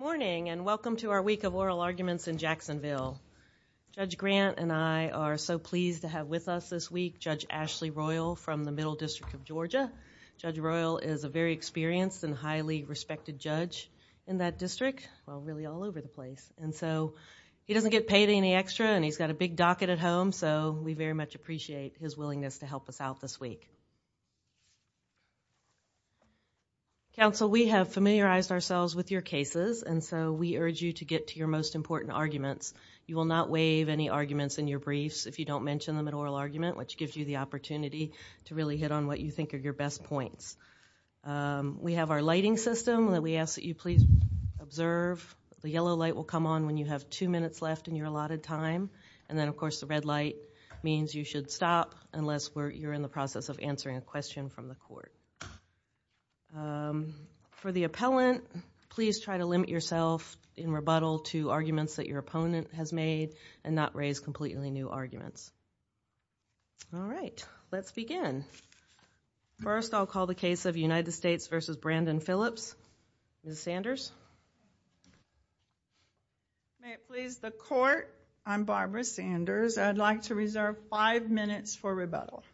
Morning and welcome to our week of oral arguments in Jacksonville. Judge Grant and I are so pleased to have with us this week Judge Ashley Royal from the Middle District of Georgia. Judge Royal is a very experienced and highly respected judge in that district, well really all over the place, and so he doesn't get paid any extra and he's got a big docket at home so we very much appreciate his willingness to help us out this week. Judge Royal Counsel, we have familiarized ourselves with your cases and so we urge you to get to your most important arguments. You will not waive any arguments in your briefs if you don't mention them in oral argument which gives you the opportunity to really hit on what you think are your best points. We have our lighting system that we ask that you please observe. The yellow light will come on when you have two minutes left in your allotted time and then of course the red light means you should stop unless you're in the process of answering a question from the court. For the appellant, please try to limit yourself in rebuttal to arguments that your opponent has made and not raise completely new arguments. All right, let's begin. First I'll call the case of United States v. Brandon Phillips. Ms. Sanders? May it please the court, I'm Barbara Sanders. I'd like to reserve five minutes for rebuttal.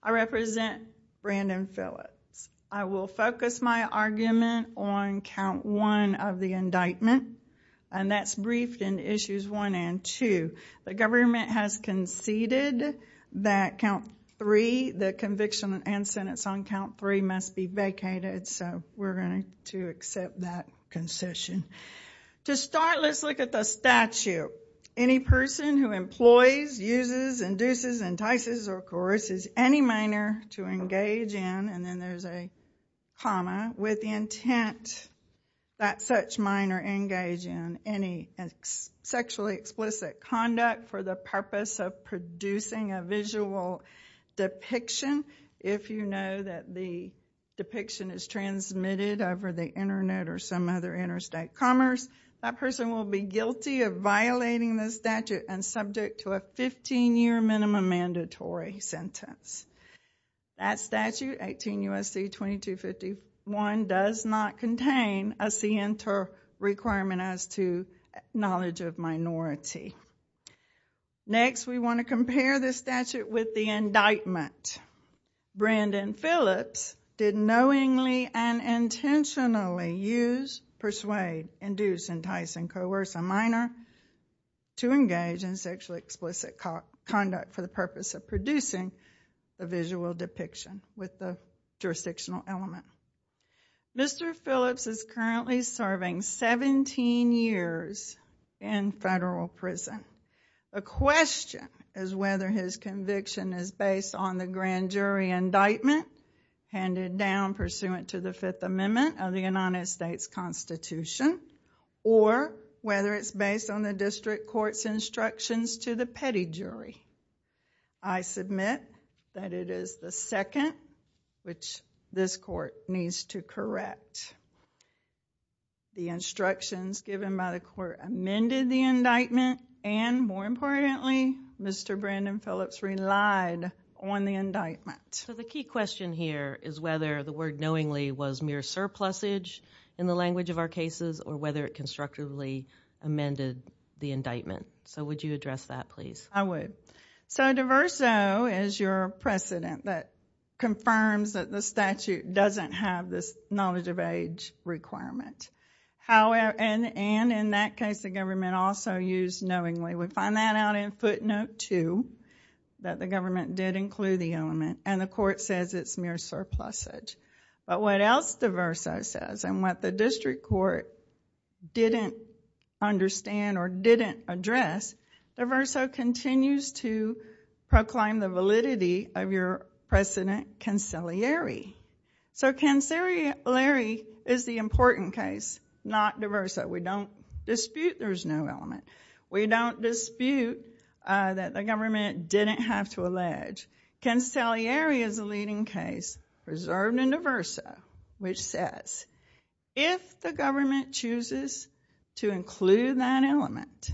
I represent Brandon Phillips. I will focus my argument on count one of the indictment and that's briefed in issues one and two. The government has conceded that count three, the conviction and sentence on count three must be vacated so we're going to accept that concession. To start, let's look at the statute. Any person who employs, uses, induces, entices or coerces any minor to engage in, and then there's a comma, with the intent that such minor engage in any sexually explicit conduct for the purpose of producing a visual depiction. If you know that the depiction is transmitted over the internet or some other interstate commerce, that person will be guilty of violating the statute and subject to a 15-year minimum mandatory sentence. That statute, 18 U.S.C. 2251, does not contain a CNTER requirement as to knowledge of minority. Next, we want to compare the statute with the indictment. Brandon Phillips did knowingly and intentionally use, persuade, induce, entice and coerce a minor to engage in sexually explicit conduct for the purpose of producing a visual depiction with the jurisdictional element. Mr. Phillips is currently serving 17 years in federal prison. A question is whether his conviction is based on the grand jury indictment handed down pursuant to the Fifth Amendment of the United States Constitution or whether it's based on the district court's instructions to the petty jury. I submit that it is the second, which this court needs to correct. The instructions given by the court amended the indictment and, more importantly, Mr. Brandon Phillips relied on the indictment. The key question here is whether the word knowingly was mere surplusage in the language of our cases or whether it constructively amended the indictment. Would you address that, please? I would. So, diverso is your precedent that confirms that the statute doesn't have this knowledge of age requirement and, in that case, the government also used knowingly. We find that out in footnote two that the government did include the element and the court says it's mere surplusage. But what else diverso says and what the district court didn't understand or didn't address, diverso continues to proclaim the validity of your precedent conciliari. So conciliari is the important case, not diverso. We don't dispute there's no element. We don't dispute that the government didn't have to allege. Conciliari is a leading case, reserved in diverso, which says if the government chooses to include that element,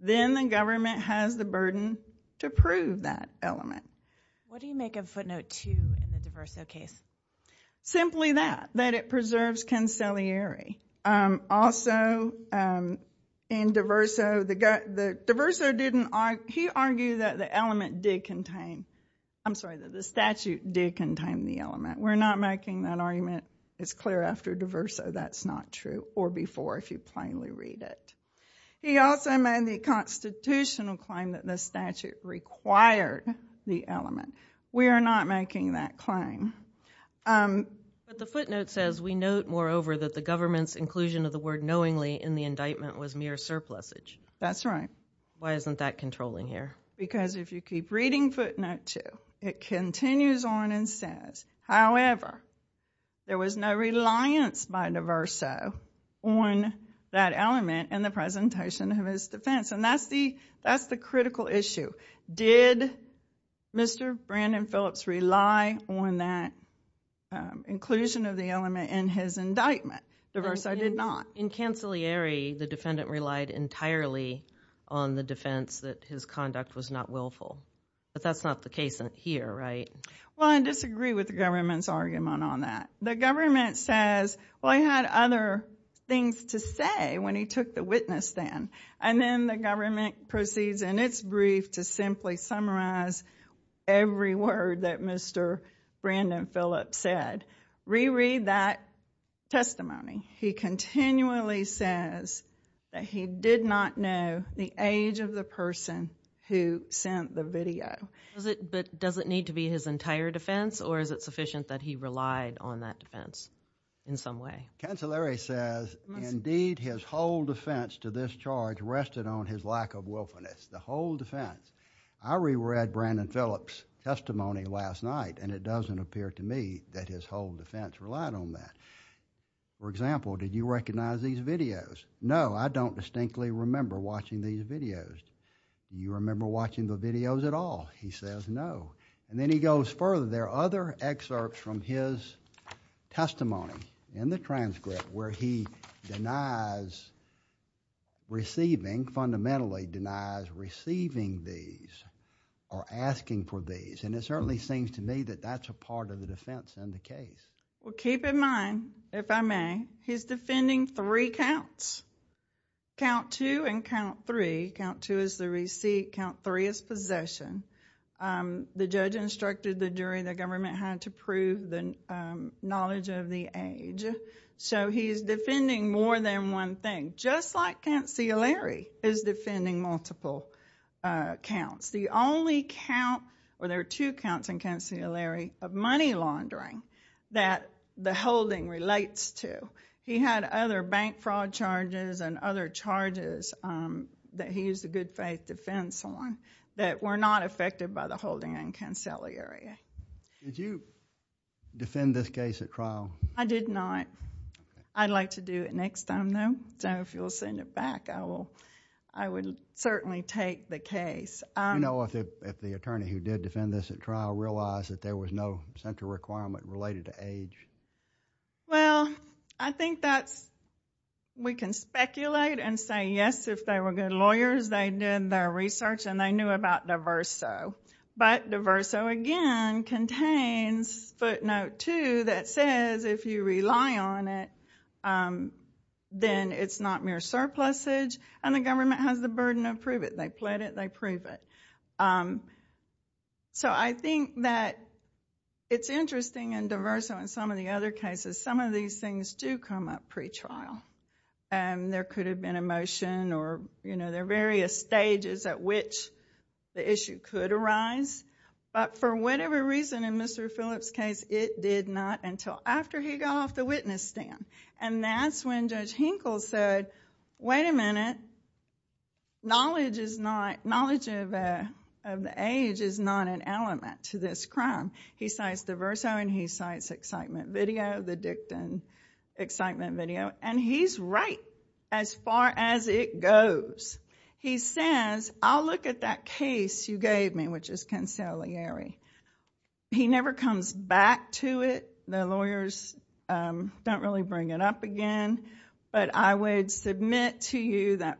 then the government has the burden to prove that element. What do you make of footnote two in the diverso case? Simply that, that it preserves conciliari. Also in diverso, diverso didn't argue, he argued that the element did contain, I'm sorry, that the statute did contain the element. We're not making that argument as clear after diverso. That's not true. Or before if you plainly read it. He also made the constitutional claim that the statute required the element. We are not making that claim. The footnote says we note moreover that the government's inclusion of the word knowingly in the indictment was mere surplusage. That's right. Why isn't that controlling here? Because if you keep reading footnote two, it continues on and says, however, there was no reliance by diverso on that element in the presentation of his defense. And that's the critical issue. Did Mr. Brandon Phillips rely on that inclusion of the element in his indictment? Diverso did not. In conciliari, the defendant relied entirely on the defense that his conduct was not willful. But that's not the case here, right? Well, I disagree with the government's argument on that. The government says, well, he had other things to say when he took the witness then. And then the government proceeds in its brief to simply summarize every word that Mr. Brandon Phillips said. Reread that testimony. He continually says that he did not know the age of the person who sent the video. But does it need to be his entire defense or is it sufficient that he relied on that defense in some way? Conciliari says, indeed, his whole defense to this charge rested on his lack of willfulness, the whole defense. I reread Brandon Phillips' testimony last night and it doesn't appear to me that his whole defense relied on that. For example, did you recognize these videos? No, I don't distinctly remember watching these videos. You remember watching the videos at all? He says, no. And then he goes further. There are other excerpts from his testimony in the transcript where he denies receiving, fundamentally denies receiving these or asking for these. And it certainly seems to me that that's a part of the defense in the case. Well, keep in mind, if I may, he's defending three counts. Count two and count three. Count two is the receipt, count three is possession. The judge instructed the jury the government had to prove the knowledge of the age. So he's defending more than one thing, just like conciliari is defending multiple counts. The only count, or there are two counts in conciliari, of money laundering that the holding relates to. He had other bank fraud charges and other charges that he used the good faith defense on that were not affected by the holding in conciliari. Did you defend this case at trial? I did not. Okay. I'd like to do it next time though, so if you'll send it back, I would certainly take the case. Do you know if the attorney who did defend this at trial realized that there was no central requirement related to age? Well, I think that's, we can speculate and say yes, if they were good lawyers, they did their research and they knew about diverso. But diverso, again, contains footnote two that says if you rely on it, then it's not mere surplusage and the government has the burden of prove it. They pled it, they prove it. So, I think that it's interesting in diverso and some of the other cases, some of these things do come up pre-trial. There could have been a motion or there are various stages at which the issue could arise, but for whatever reason in Mr. Phillips' case, it did not until after he got off the witness stand. And that's when Judge Hinkle said, wait a minute, knowledge of the age is not an element to this crime. He cites diverso and he cites excitement video, the Dicton excitement video, and he's right as far as it goes. He says, I'll look at that case you gave me, which is conciliary. He never comes back to it. The lawyers don't really bring it up again, but I would submit to you that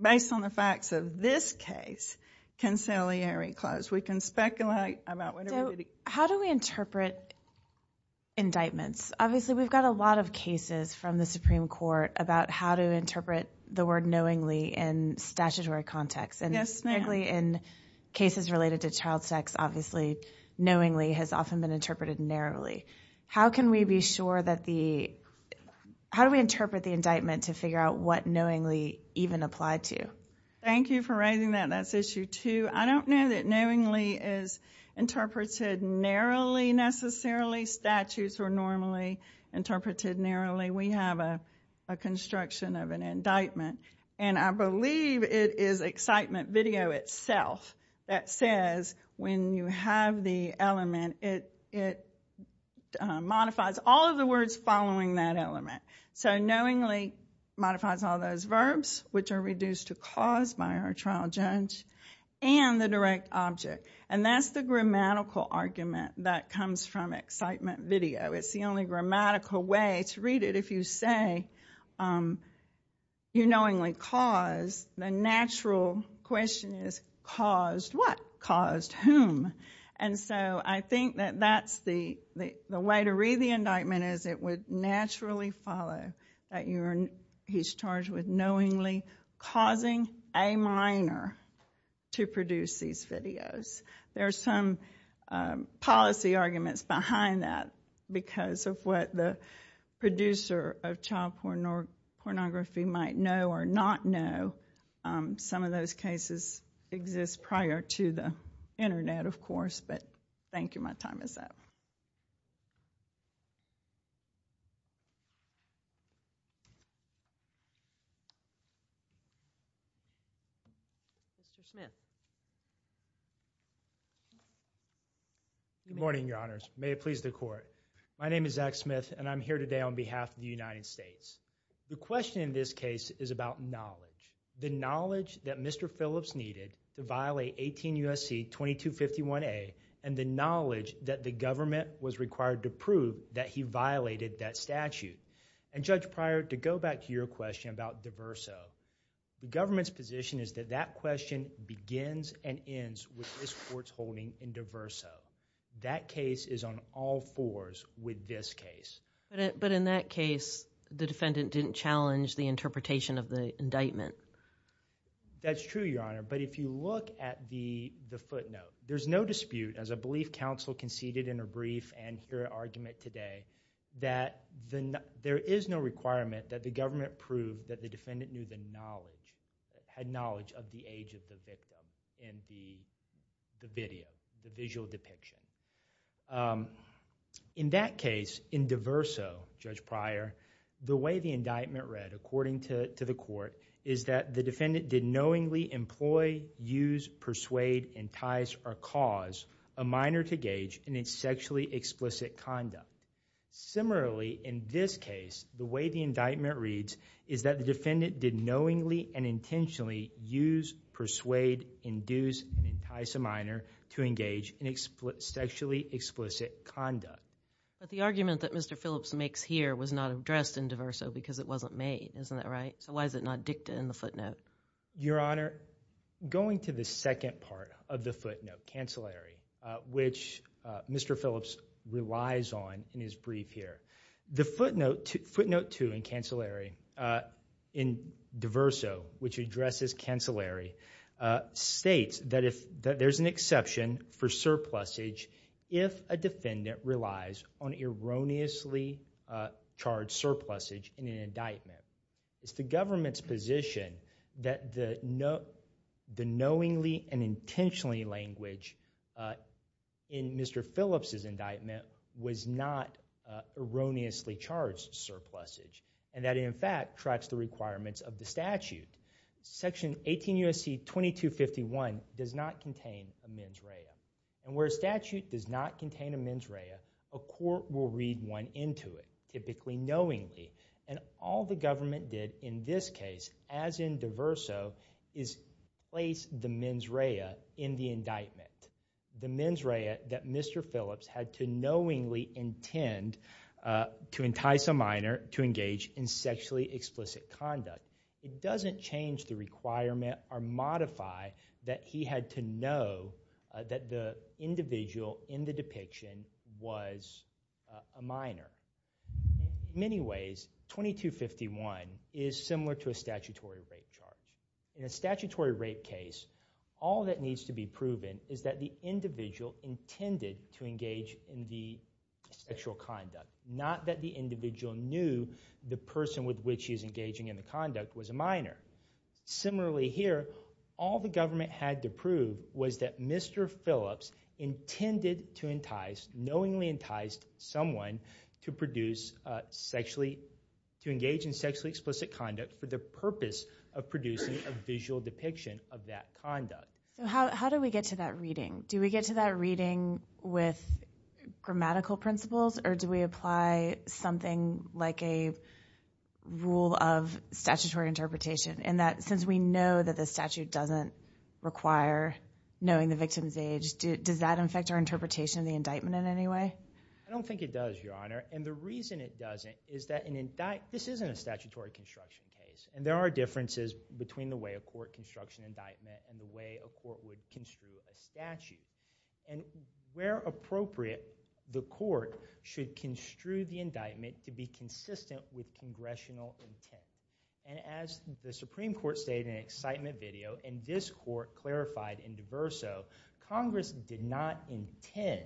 based on the facts of this case, conciliary clause. We can speculate about what everybody... How do we interpret indictments? Obviously, we've got a lot of cases from the Supreme Court about how to interpret the word knowingly in statutory context. Yes, ma'am. Specifically in cases related to child sex, obviously knowingly has often been interpreted narrowly. How can we be sure that the... How do we interpret the indictment to figure out what knowingly even applied to? Thank you for raising that. That's issue two. I don't know that knowingly is interpreted narrowly necessarily. Statutes were normally interpreted narrowly. We have a construction of an indictment, and I believe it is excitement video itself that says when you have the element, it modifies all of the words following that element. Knowingly modifies all those verbs, which are reduced to clause by our trial judge and the direct object. That's the grammatical argument that comes from excitement video. It's the only grammatical way to read it. If you say, you knowingly cause, the natural question is caused what? Caused whom? I think that that's the way to read the indictment is it would naturally follow that he's charged with knowingly causing a minor to produce these videos. There's some policy arguments behind that because of what the producer of child pornography might know or not know. Some of those cases exist prior to the internet, of course, but thank you. My time is up. Mr. Smith? Good morning, your honors. May it please the court. My name is Zack Smith, and I'm here today on behalf of the United States. The question in this case is about knowledge. The knowledge that Mr. Phillips needed to violate 18 U.S.C. 2251A and the knowledge that the government was required to prove that he violated that statute. Judge Pryor, to go back to your question about DeVerso, the government's position is that that question begins and ends with this court's holding in DeVerso. That case is on all fours with this case. In that case, the defendant didn't challenge the interpretation of the indictment. That's true, your honor, but if you look at the footnote, there's no dispute as I believe counsel conceded in a brief and here argument today, that there is no requirement that the government prove that the defendant knew the knowledge, had knowledge of the age of the victim in the video, the visual depiction. In that case, in DeVerso, Judge Pryor, the way the indictment read according to the court is that the defendant did knowingly employ, use, persuade, entice, or cause a minor to gauge in its sexually explicit conduct. Similarly, in this case, the way the indictment reads is that the defendant did knowingly and intentionally use, persuade, induce, and entice a minor to engage in sexually explicit conduct. But the argument that Mr. Phillips makes here was not addressed in DeVerso because it wasn't made. Isn't that right? So why is it not dictated in the footnote? Your honor, going to the second part of the footnote, cancellary, which Mr. Phillips relies on in his brief here. The footnote, footnote two in cancellary, in DeVerso, which addresses cancellary, states that if, that there's an exception for surplusage if a defendant relies on erroneously charged surplusage in an indictment, it's the government's position that the knowingly and intentionally language in Mr. Phillips' indictment was not erroneously charged surplusage, and that it in fact tracks the requirements of the statute. Section 18 U.S.C. 2251 does not contain a mens rea, and where a statute does not contain a mens rea, a court will read one into it, typically knowingly. And all the government did in this case, as in DeVerso, is place the mens rea in the indictment. The mens rea that Mr. Phillips had to knowingly intend to entice a minor to engage in sexually explicit conduct, it doesn't change the requirement or modify that he had to know that the individual in the depiction was a minor. In many ways, 2251 is similar to a statutory rape charge. In a statutory rape case, all that needs to be proven is that the individual intended to engage in the sexual conduct, not that the individual knew the person with which Similarly here, all the government had to prove was that Mr. Phillips intended to entice, knowingly enticed someone to engage in sexually explicit conduct for the purpose of producing a visual depiction of that conduct. How do we get to that reading? Do we get to that reading with grammatical principles, or do we apply something like a rule of statutory interpretation, in that since we know that the statute doesn't require knowing the victim's age, does that affect our interpretation of the indictment in any way? I don't think it does, Your Honor. And the reason it doesn't is that this isn't a statutory construction case, and there are differences between the way a court constructs an indictment and the way a court would construe a statute. And where appropriate, the court should construe the indictment to be consistent with congressional intent. And as the Supreme Court stated in an excitement video, and this court clarified in DeVerso, Congress did not intend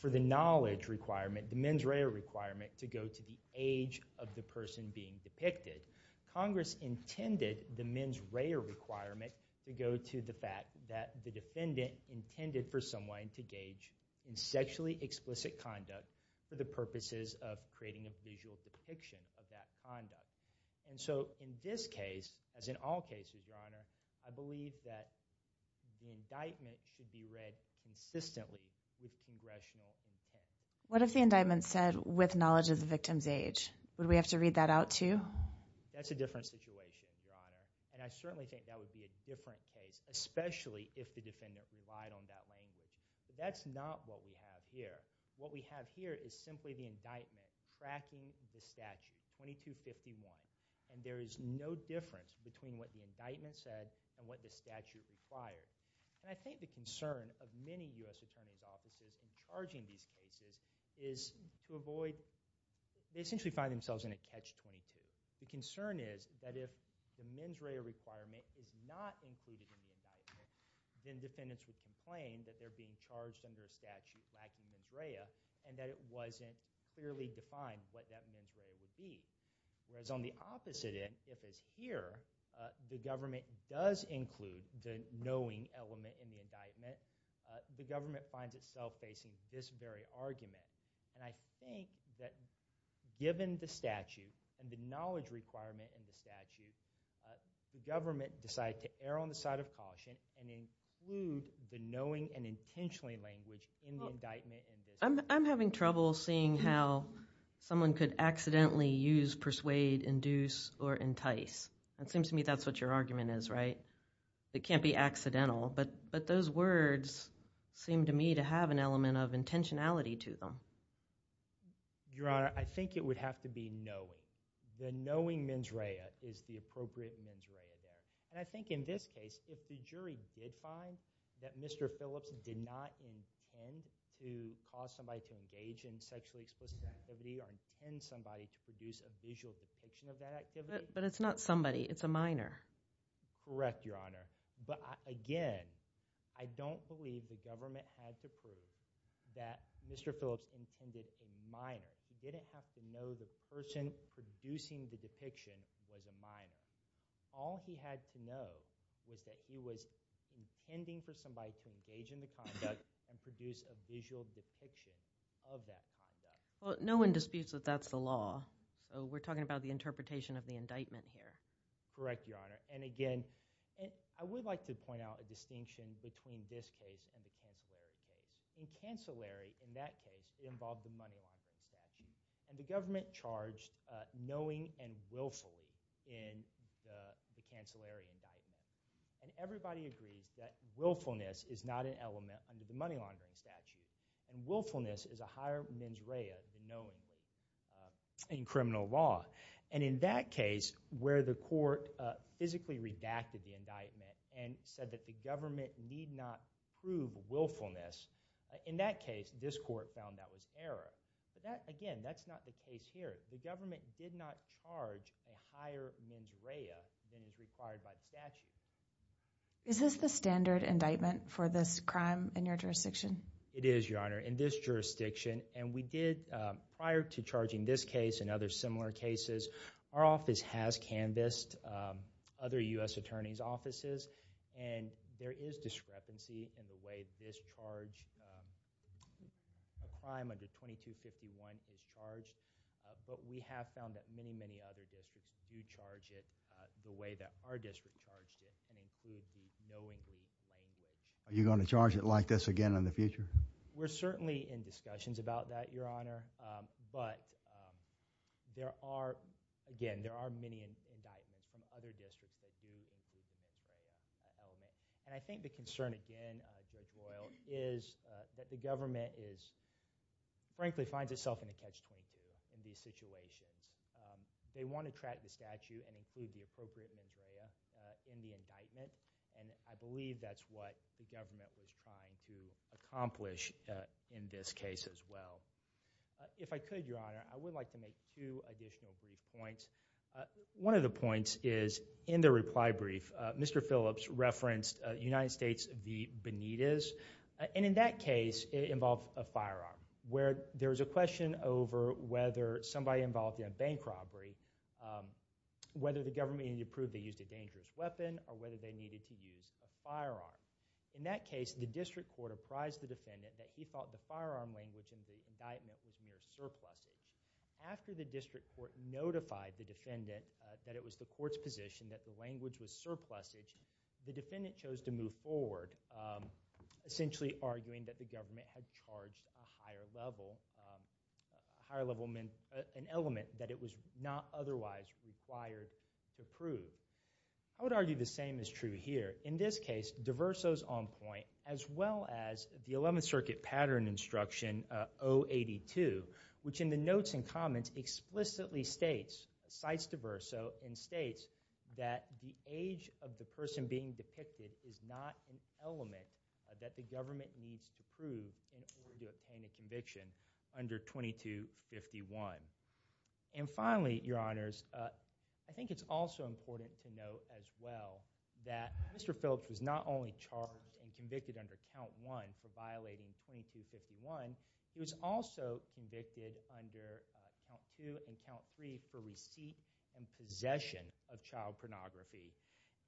for the knowledge requirement, the mens rea requirement, to go to the age of the person being depicted. Congress intended the mens rea requirement to go to the fact that the defendant intended for someone to gauge in sexually explicit conduct for the purposes of creating a visual depiction of that conduct. And so, in this case, as in all cases, Your Honor, I believe that the indictment should be read consistently with congressional intent. What if the indictment said, with knowledge of the victim's age, would we have to read that out, too? That's a different situation, Your Honor. And I certainly think that would be a different case, especially if the defendant relied on that language. But that's not what we have here. What we have here is simply the indictment tracking the statute 2251. And there is no difference between what the indictment said and what the statute required. And I think the concern of many U.S. Attorney's offices in charging these cases is to avoid they essentially find themselves in a catch-22. The concern is that if the mens rea requirement is not included in the indictment, then defendants would complain that they're being charged under a statute lacking mens rea and that it wasn't clearly defined what that mens rea would be. Whereas on the opposite end, if it's here, the government does include the knowing element in the indictment. The government finds itself facing this very argument. And I think that given the statute and the knowledge requirement in the statute, the government decided to err on the side of caution and include the knowing and intentionally language in the indictment. I'm having trouble seeing how someone could accidentally use, persuade, induce, or entice. It seems to me that's what your argument is, right? It can't be accidental. But those words seem to me to have an element of intentionality to them. Your Honor, I think it would have to be knowing. The knowing mens rea is the appropriate mens rea there. And I think in this case, if the jury did find that Mr. Phillips did not intend to cause somebody to engage in sexually explicit activity or intend somebody to produce a visual depiction of that activity. But it's not somebody. It's a minor. Correct, Your Honor. But again, I don't believe the government had to prove that Mr. Phillips intended a minor. He didn't have to know the person producing the depiction was a minor. All he had to know was that he was intending for somebody to engage in the conduct and produce a visual depiction of that conduct. Well, no one disputes that that's the law. So we're talking about the interpretation of the indictment here. Correct, Your Honor. And again, I would like to point out a distinction between this case and the Cancellary case. In Cancellary, in that case, it involved the money laundering statute. And the government charged knowing and willfully in the Cancellary indictment. And everybody agrees that willfulness is not an element under the money laundering statute. And willfulness is a higher mens rea than knowingly in criminal law. And in that case, where the court physically redacted the indictment and said that the government need not prove willfulness, in that case, this court found that was error. But again, that's not the case here. The government did not charge a higher mens rea than is required by the statute. Is this the standard indictment for this crime in your jurisdiction? It is, Your Honor, in this jurisdiction. And we did, prior to charging this case and other similar cases, our office has canvassed other U.S. attorneys' offices. And there is discrepancy in the way this charge, a crime under 2251 is charged. But we have found that many, many other districts do charge it the way that our district charged it, and include the knowingly language. Are you going to charge it like this again in the future? We're certainly in discussions about that, Your Honor. But there are, again, there are many indictments from other districts that do include the mens rea element. And I think the concern, again, Judge Royal, is that the government is, frankly, finds itself in a catch-22 in these situations. They want to track the statute and include the appropriate mens rea in the indictment. And I believe that's what the government was trying to accomplish in this case as well. If I could, Your Honor, I would like to make two additional brief points. One of the points is, in the reply brief, Mr. Phillips referenced United States v. Benitez. And in that case, it involved a firearm, where there was a question over whether somebody involved in a bank robbery, whether the government needed to prove they used a dangerous weapon or whether they needed to use a firearm. In that case, the district court apprised the defendant that he thought the firearm language in the indictment was mere surplusage. After the district court notified the defendant that it was the court's position that the language was surplusage, the defendant chose to move forward, essentially arguing that the government had charged a higher-level, a higher-level element that it was not otherwise required to prove. I would argue the same is true here. In this case, DeVerso's on point, as well as the 11th Circuit Pattern Instruction 082, which in the notes and comments explicitly states, cites DeVerso and states that the age of the person being depicted is not an element that the government needs to prove in order to obtain a conviction under 2251. And finally, Your Honors, I think it's also important to note as well that Mr. Phillips was not only charged and convicted under Count 1 for violating 2251, he was also convicted under Count 2 and Count 3 for receipt and possession of child pornography.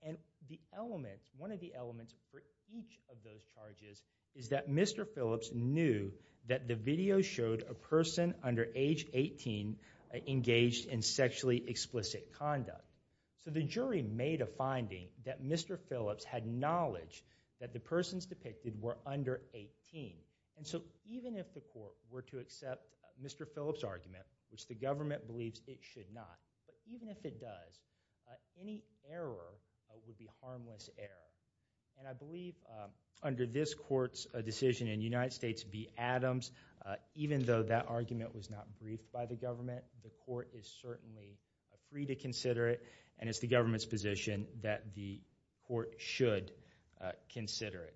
And the element, one of the elements for each of those charges is that Mr. Phillips knew that the video showed a person under age 18 engaged in sexually explicit conduct. So the jury made a finding that Mr. Phillips had knowledge that the persons depicted were under 18. And so even if the court were to accept Mr. Phillips' argument, which the government believes it should not, but even if it does, any error would be harmless error. And I believe under this court's decision in the United States, be Adams, even though that argument was not briefed by the government, the court is certainly free to consider it and it's the government's position that the court should consider it.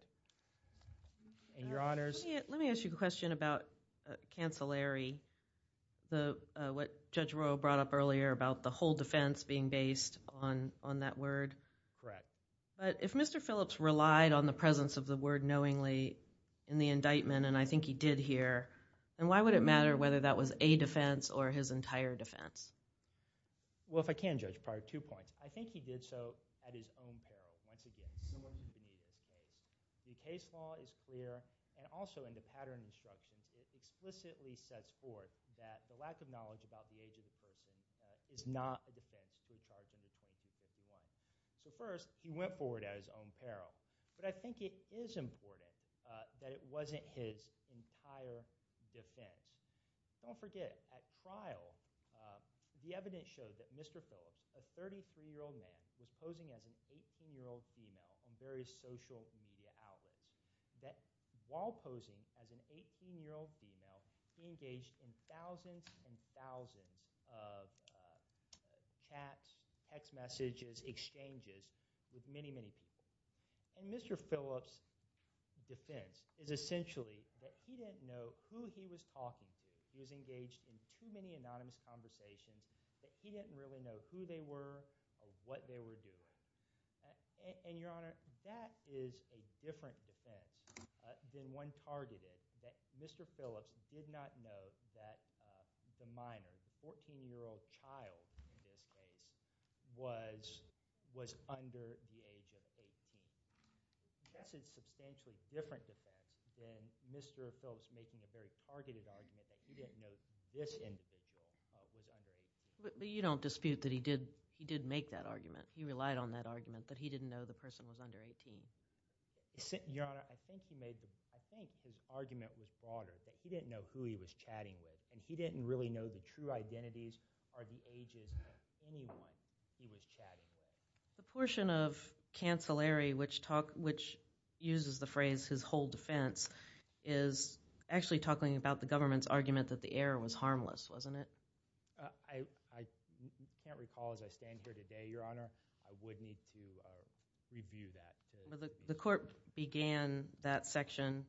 And Your Honors... Let me ask you a question about cancelary, what Judge Royal brought up earlier about the whole defense being based on that word. Correct. But if Mr. Phillips relied on the presence of the word knowingly in the indictment, and I think he did here, then why would it matter whether that was a defense or his entire defense? Well, if I can, Judge Pryor, two points. I think he did so at his own peril, once again, similar to the media's case. The case law is clear, and also in the pattern instructions, it explicitly sets forth that the lack of knowledge about the age of the person is not a defense to a charge under Section 251. So first, he went forward at his own peril. But I think it is important that it wasn't his entire defense. Don't forget, at trial, the evidence showed that Mr. Phillips, a 33-year-old man, was posing as an 18-year-old female in various social media outlets. While posing as an 18-year-old female, he engaged in thousands and thousands of chats, text messages, exchanges with many, many people. And Mr. Phillips' defense is essentially that he didn't know who he was talking to. He was engaged in too many anonymous conversations that he didn't really know who they were or what they were doing. And, Your Honor, that is a different defense than one targeted that Mr. Phillips did not know that the minor, the 14-year-old child in this case, was under the age of 18. That's a substantially different defense than Mr. Phillips making a very targeted argument that he didn't know this individual was under 18. But you don't dispute that he did make that argument. He relied on that argument that he didn't know the person was under 18. Your Honor, I think his argument was broader. He didn't know who he was chatting with and he didn't really know the true identities or the ages of anyone he was chatting with. The portion of cancellary, which uses the phrase his whole defense, is actually talking about the government's argument that the error was harmless, wasn't it? I can't recall as I stand here today, Your Honor. I would need to review that. The court began that section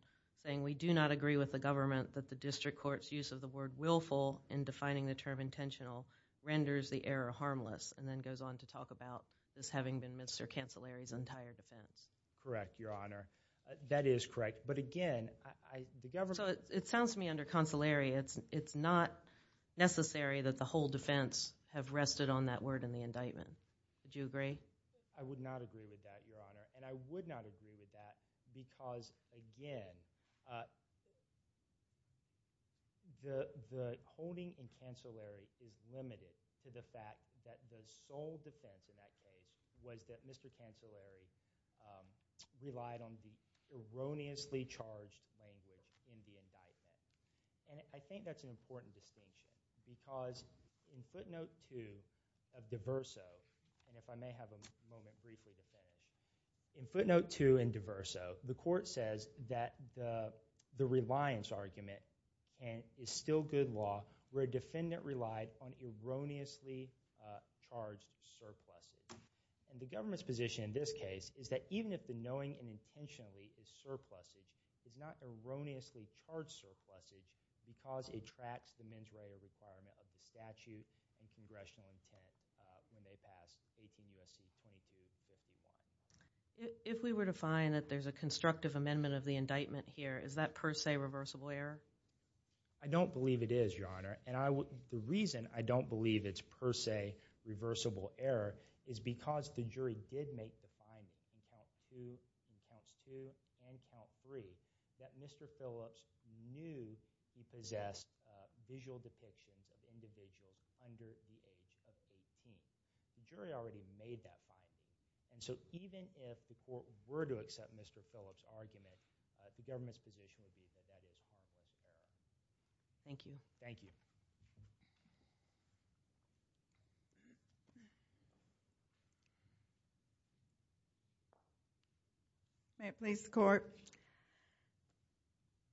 saying we do not agree with the government that the district court's use of the word willful in defining the term intentional renders the error harmless and then goes on to talk about this having been Mr. Cancellary's entire defense. Correct, Your Honor. That is correct. It sounds to me under cancellary it's not necessary that the whole defense have rested on that word in the indictment. Would you agree? I would not agree with that, Your Honor. I would not agree with that because again the holding in cancellary is limited to the fact that the sole defense in that case was that Mr. Cancellary relied on erroneously charged language in the indictment. I think that's an important distinction because in footnote 2 of DeVerso and if I may have a moment briefly to finish in footnote 2 in DeVerso the court says that the reliance argument is still good law where a defendant relied on erroneously charged surpluses. The government's position in this case is that even if the knowing and intentionally is surpluses, it's not erroneously charged surpluses because it tracks the mens rea requirement of the statute and congressional intent when they pass 18 U.S.C. 2351. If we were to find that there's a constructive amendment of the indictment here, is that per se reversible error? I don't believe it is, Your Honor. The reason I don't believe it's per se reversible error is because the jury did make the finding in count 2 and count 3 that Mr. Phillips knew he possessed visual depictions of individuals under the age of 18. The jury already made that finding. Even if the court were to accept Mr. Phillips' argument the government's position would be that that is per se reversible error. Thank you. Thank you. May it please the court.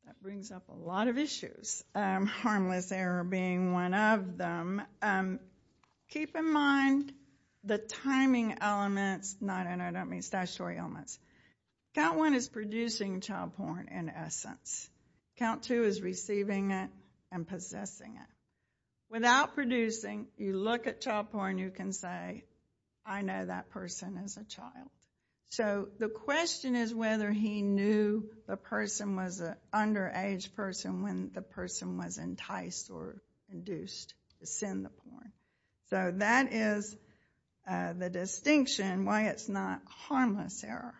That brings up a lot of issues. Harmless error being one of them. Keep in mind the timing elements. No, no, no, I don't mean statutory elements. Count 1 is producing child porn in essence. Count 2 is receiving it and possessing it. Without producing, you look at child porn you can say, I know that person as a child. So the question is whether he knew the person was an underage person when the person was enticed or induced to send the porn. So that is the distinction why it's not harmless error.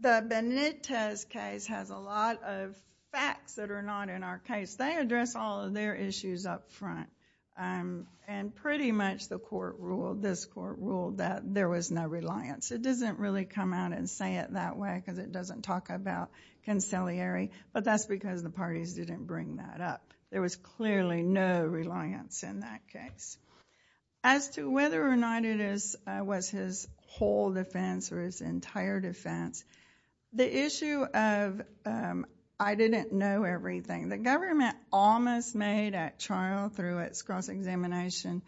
The Benitez case has a lot of facts that are not in our case. They address all of their issues up front and pretty much this court ruled that there was no reliance. It doesn't really come out and say it that way because it doesn't talk about conciliary but that's because the parties didn't bring that up. There was clearly no reliance in that case. As to whether or not it was his whole defense or his entire defense the issue of I didn't know everything. The government almost made at trial through its cross-examination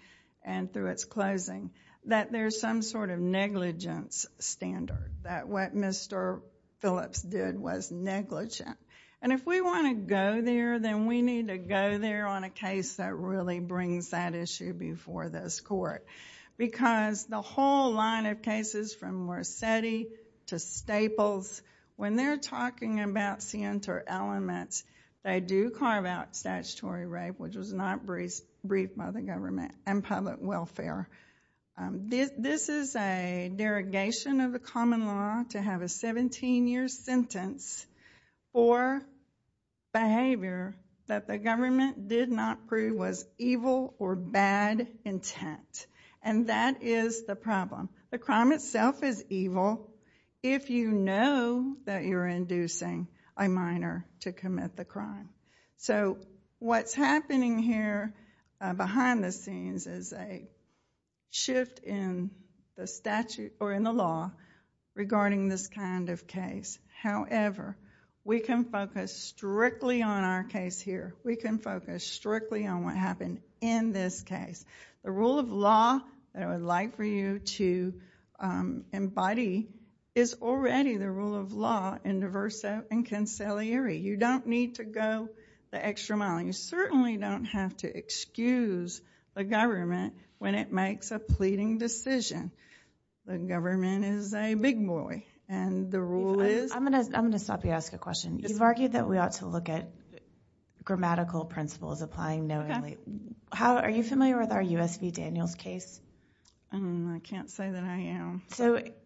and through its closing that there's some sort of negligence standard that what Mr. Phillips did was negligent and if we want to go there then we need to go there on a case that really brings that issue before this court because the whole line of cases from Mercedi to Staples when they're talking about center elements they do carve out statutory rape which was not briefed by the government and public welfare. This is a derogation of the common law to have a 17 year sentence for behavior that the government did not prove was evil or bad intent and that is the problem. The crime itself is evil if you know that you're inducing a minor to commit the crime. What's happening here behind the scenes is a shift in the statute or in the law regarding this kind of case. However, we can focus strictly on our case here. We can focus strictly on what happened in this case. The rule of law that I would like for you to embody is already the rule of law in diverse and conciliary. You don't need to go the extra mile and you certainly don't have to excuse the government when it makes a pleading decision. The government is a big boy and the rule is... I'm going to stop you and ask a question. You've argued that we ought to look at grammatical principles applying knowingly. Are you familiar with our U.S. v. Daniels case? I can't say that I am.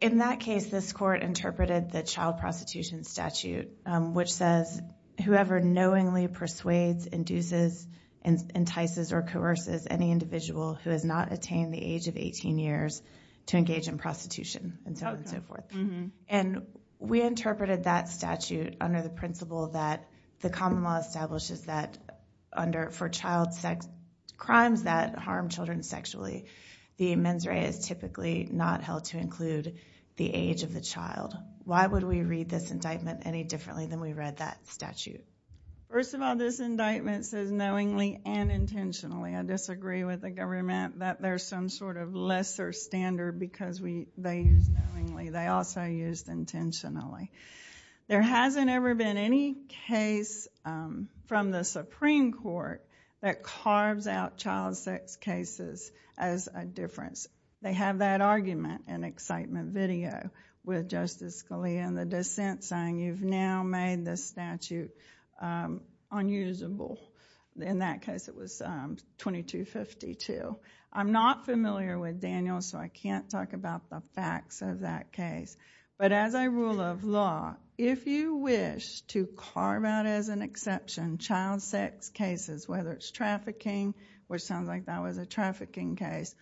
In that case, this court interpreted the child prostitution statute which says whoever knowingly persuades induces, entices or coerces any individual who has not attained the age of 18 years to engage in prostitution. We interpreted that statute under the principle that the common law establishes that for child sex crimes that harm children sexually, the mens rea is typically not held to include the age of the child. Why would we read this indictment any differently than we read that statute? First of all, this indictment says knowingly and intentionally. I disagree with the government that there's some sort of lesser standard because they used knowingly. They also used intentionally. There hasn't ever been any case from the Supreme Court that carves out child sex cases as a difference. They have that argument in excitement video with Justice Scalia in the dissent saying you've now made the statute unusable. In that case, it was 2252. I'm not familiar with Daniels so I can't talk about the facts of that case. But as a rule of law, if you wish to carve out as an exception child sex cases, whether it's trafficking which sounds like that was a trafficking case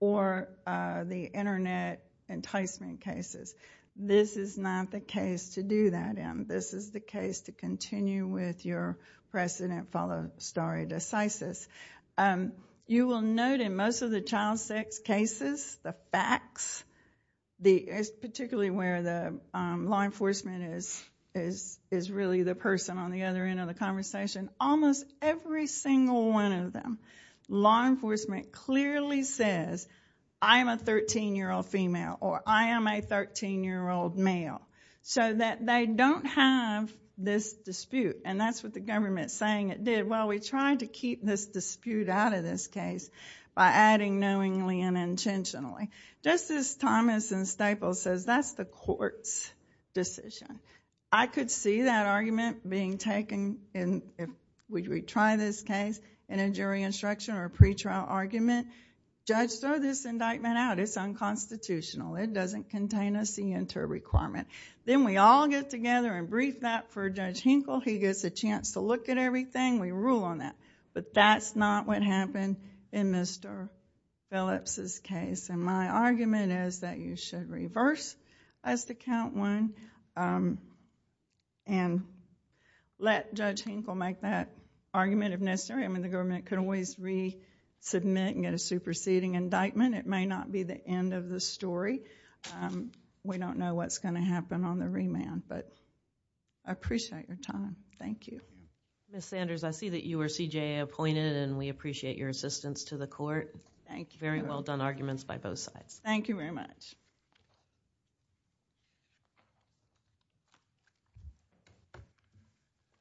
or the internet enticement cases, this is not the case to do that in. This is the case to continue with your precedent follow stare decisis. You will note in most of the child sex cases the facts, particularly where the law enforcement is really the person on the other end of the conversation, almost every single one of them law enforcement clearly says I am a 13-year-old female or I am a 13-year-old male so that they don't have this dispute. And that's what the government saying it did. Well, we tried to keep this dispute out of this case by adding knowingly and intentionally. Just as Thomas and Staples says that's the court's decision. I could see that argument being taken and if we try this case in a jury instruction or pretrial argument, judge throw this indictment out. It's unconstitutional. It doesn't contain a CNTR requirement. Then we all get together and brief that for Judge Hinkle. He gets a chance to look at everything. We rule on that. But that's not what happened in Mr. Phillips' case. And my argument is that you should reverse as to count one and let Judge Hinkle make that argument if necessary. I mean the government could always resubmit and get a superseding indictment. It may not be the end of the story. We don't know what's going to happen on the remand. But I appreciate your time. Thank you. Ms. Sanders, I see that you were CJA appointed and we appreciate your assistance to the court. Very well done arguments by both sides. Thank you very much. Thank you.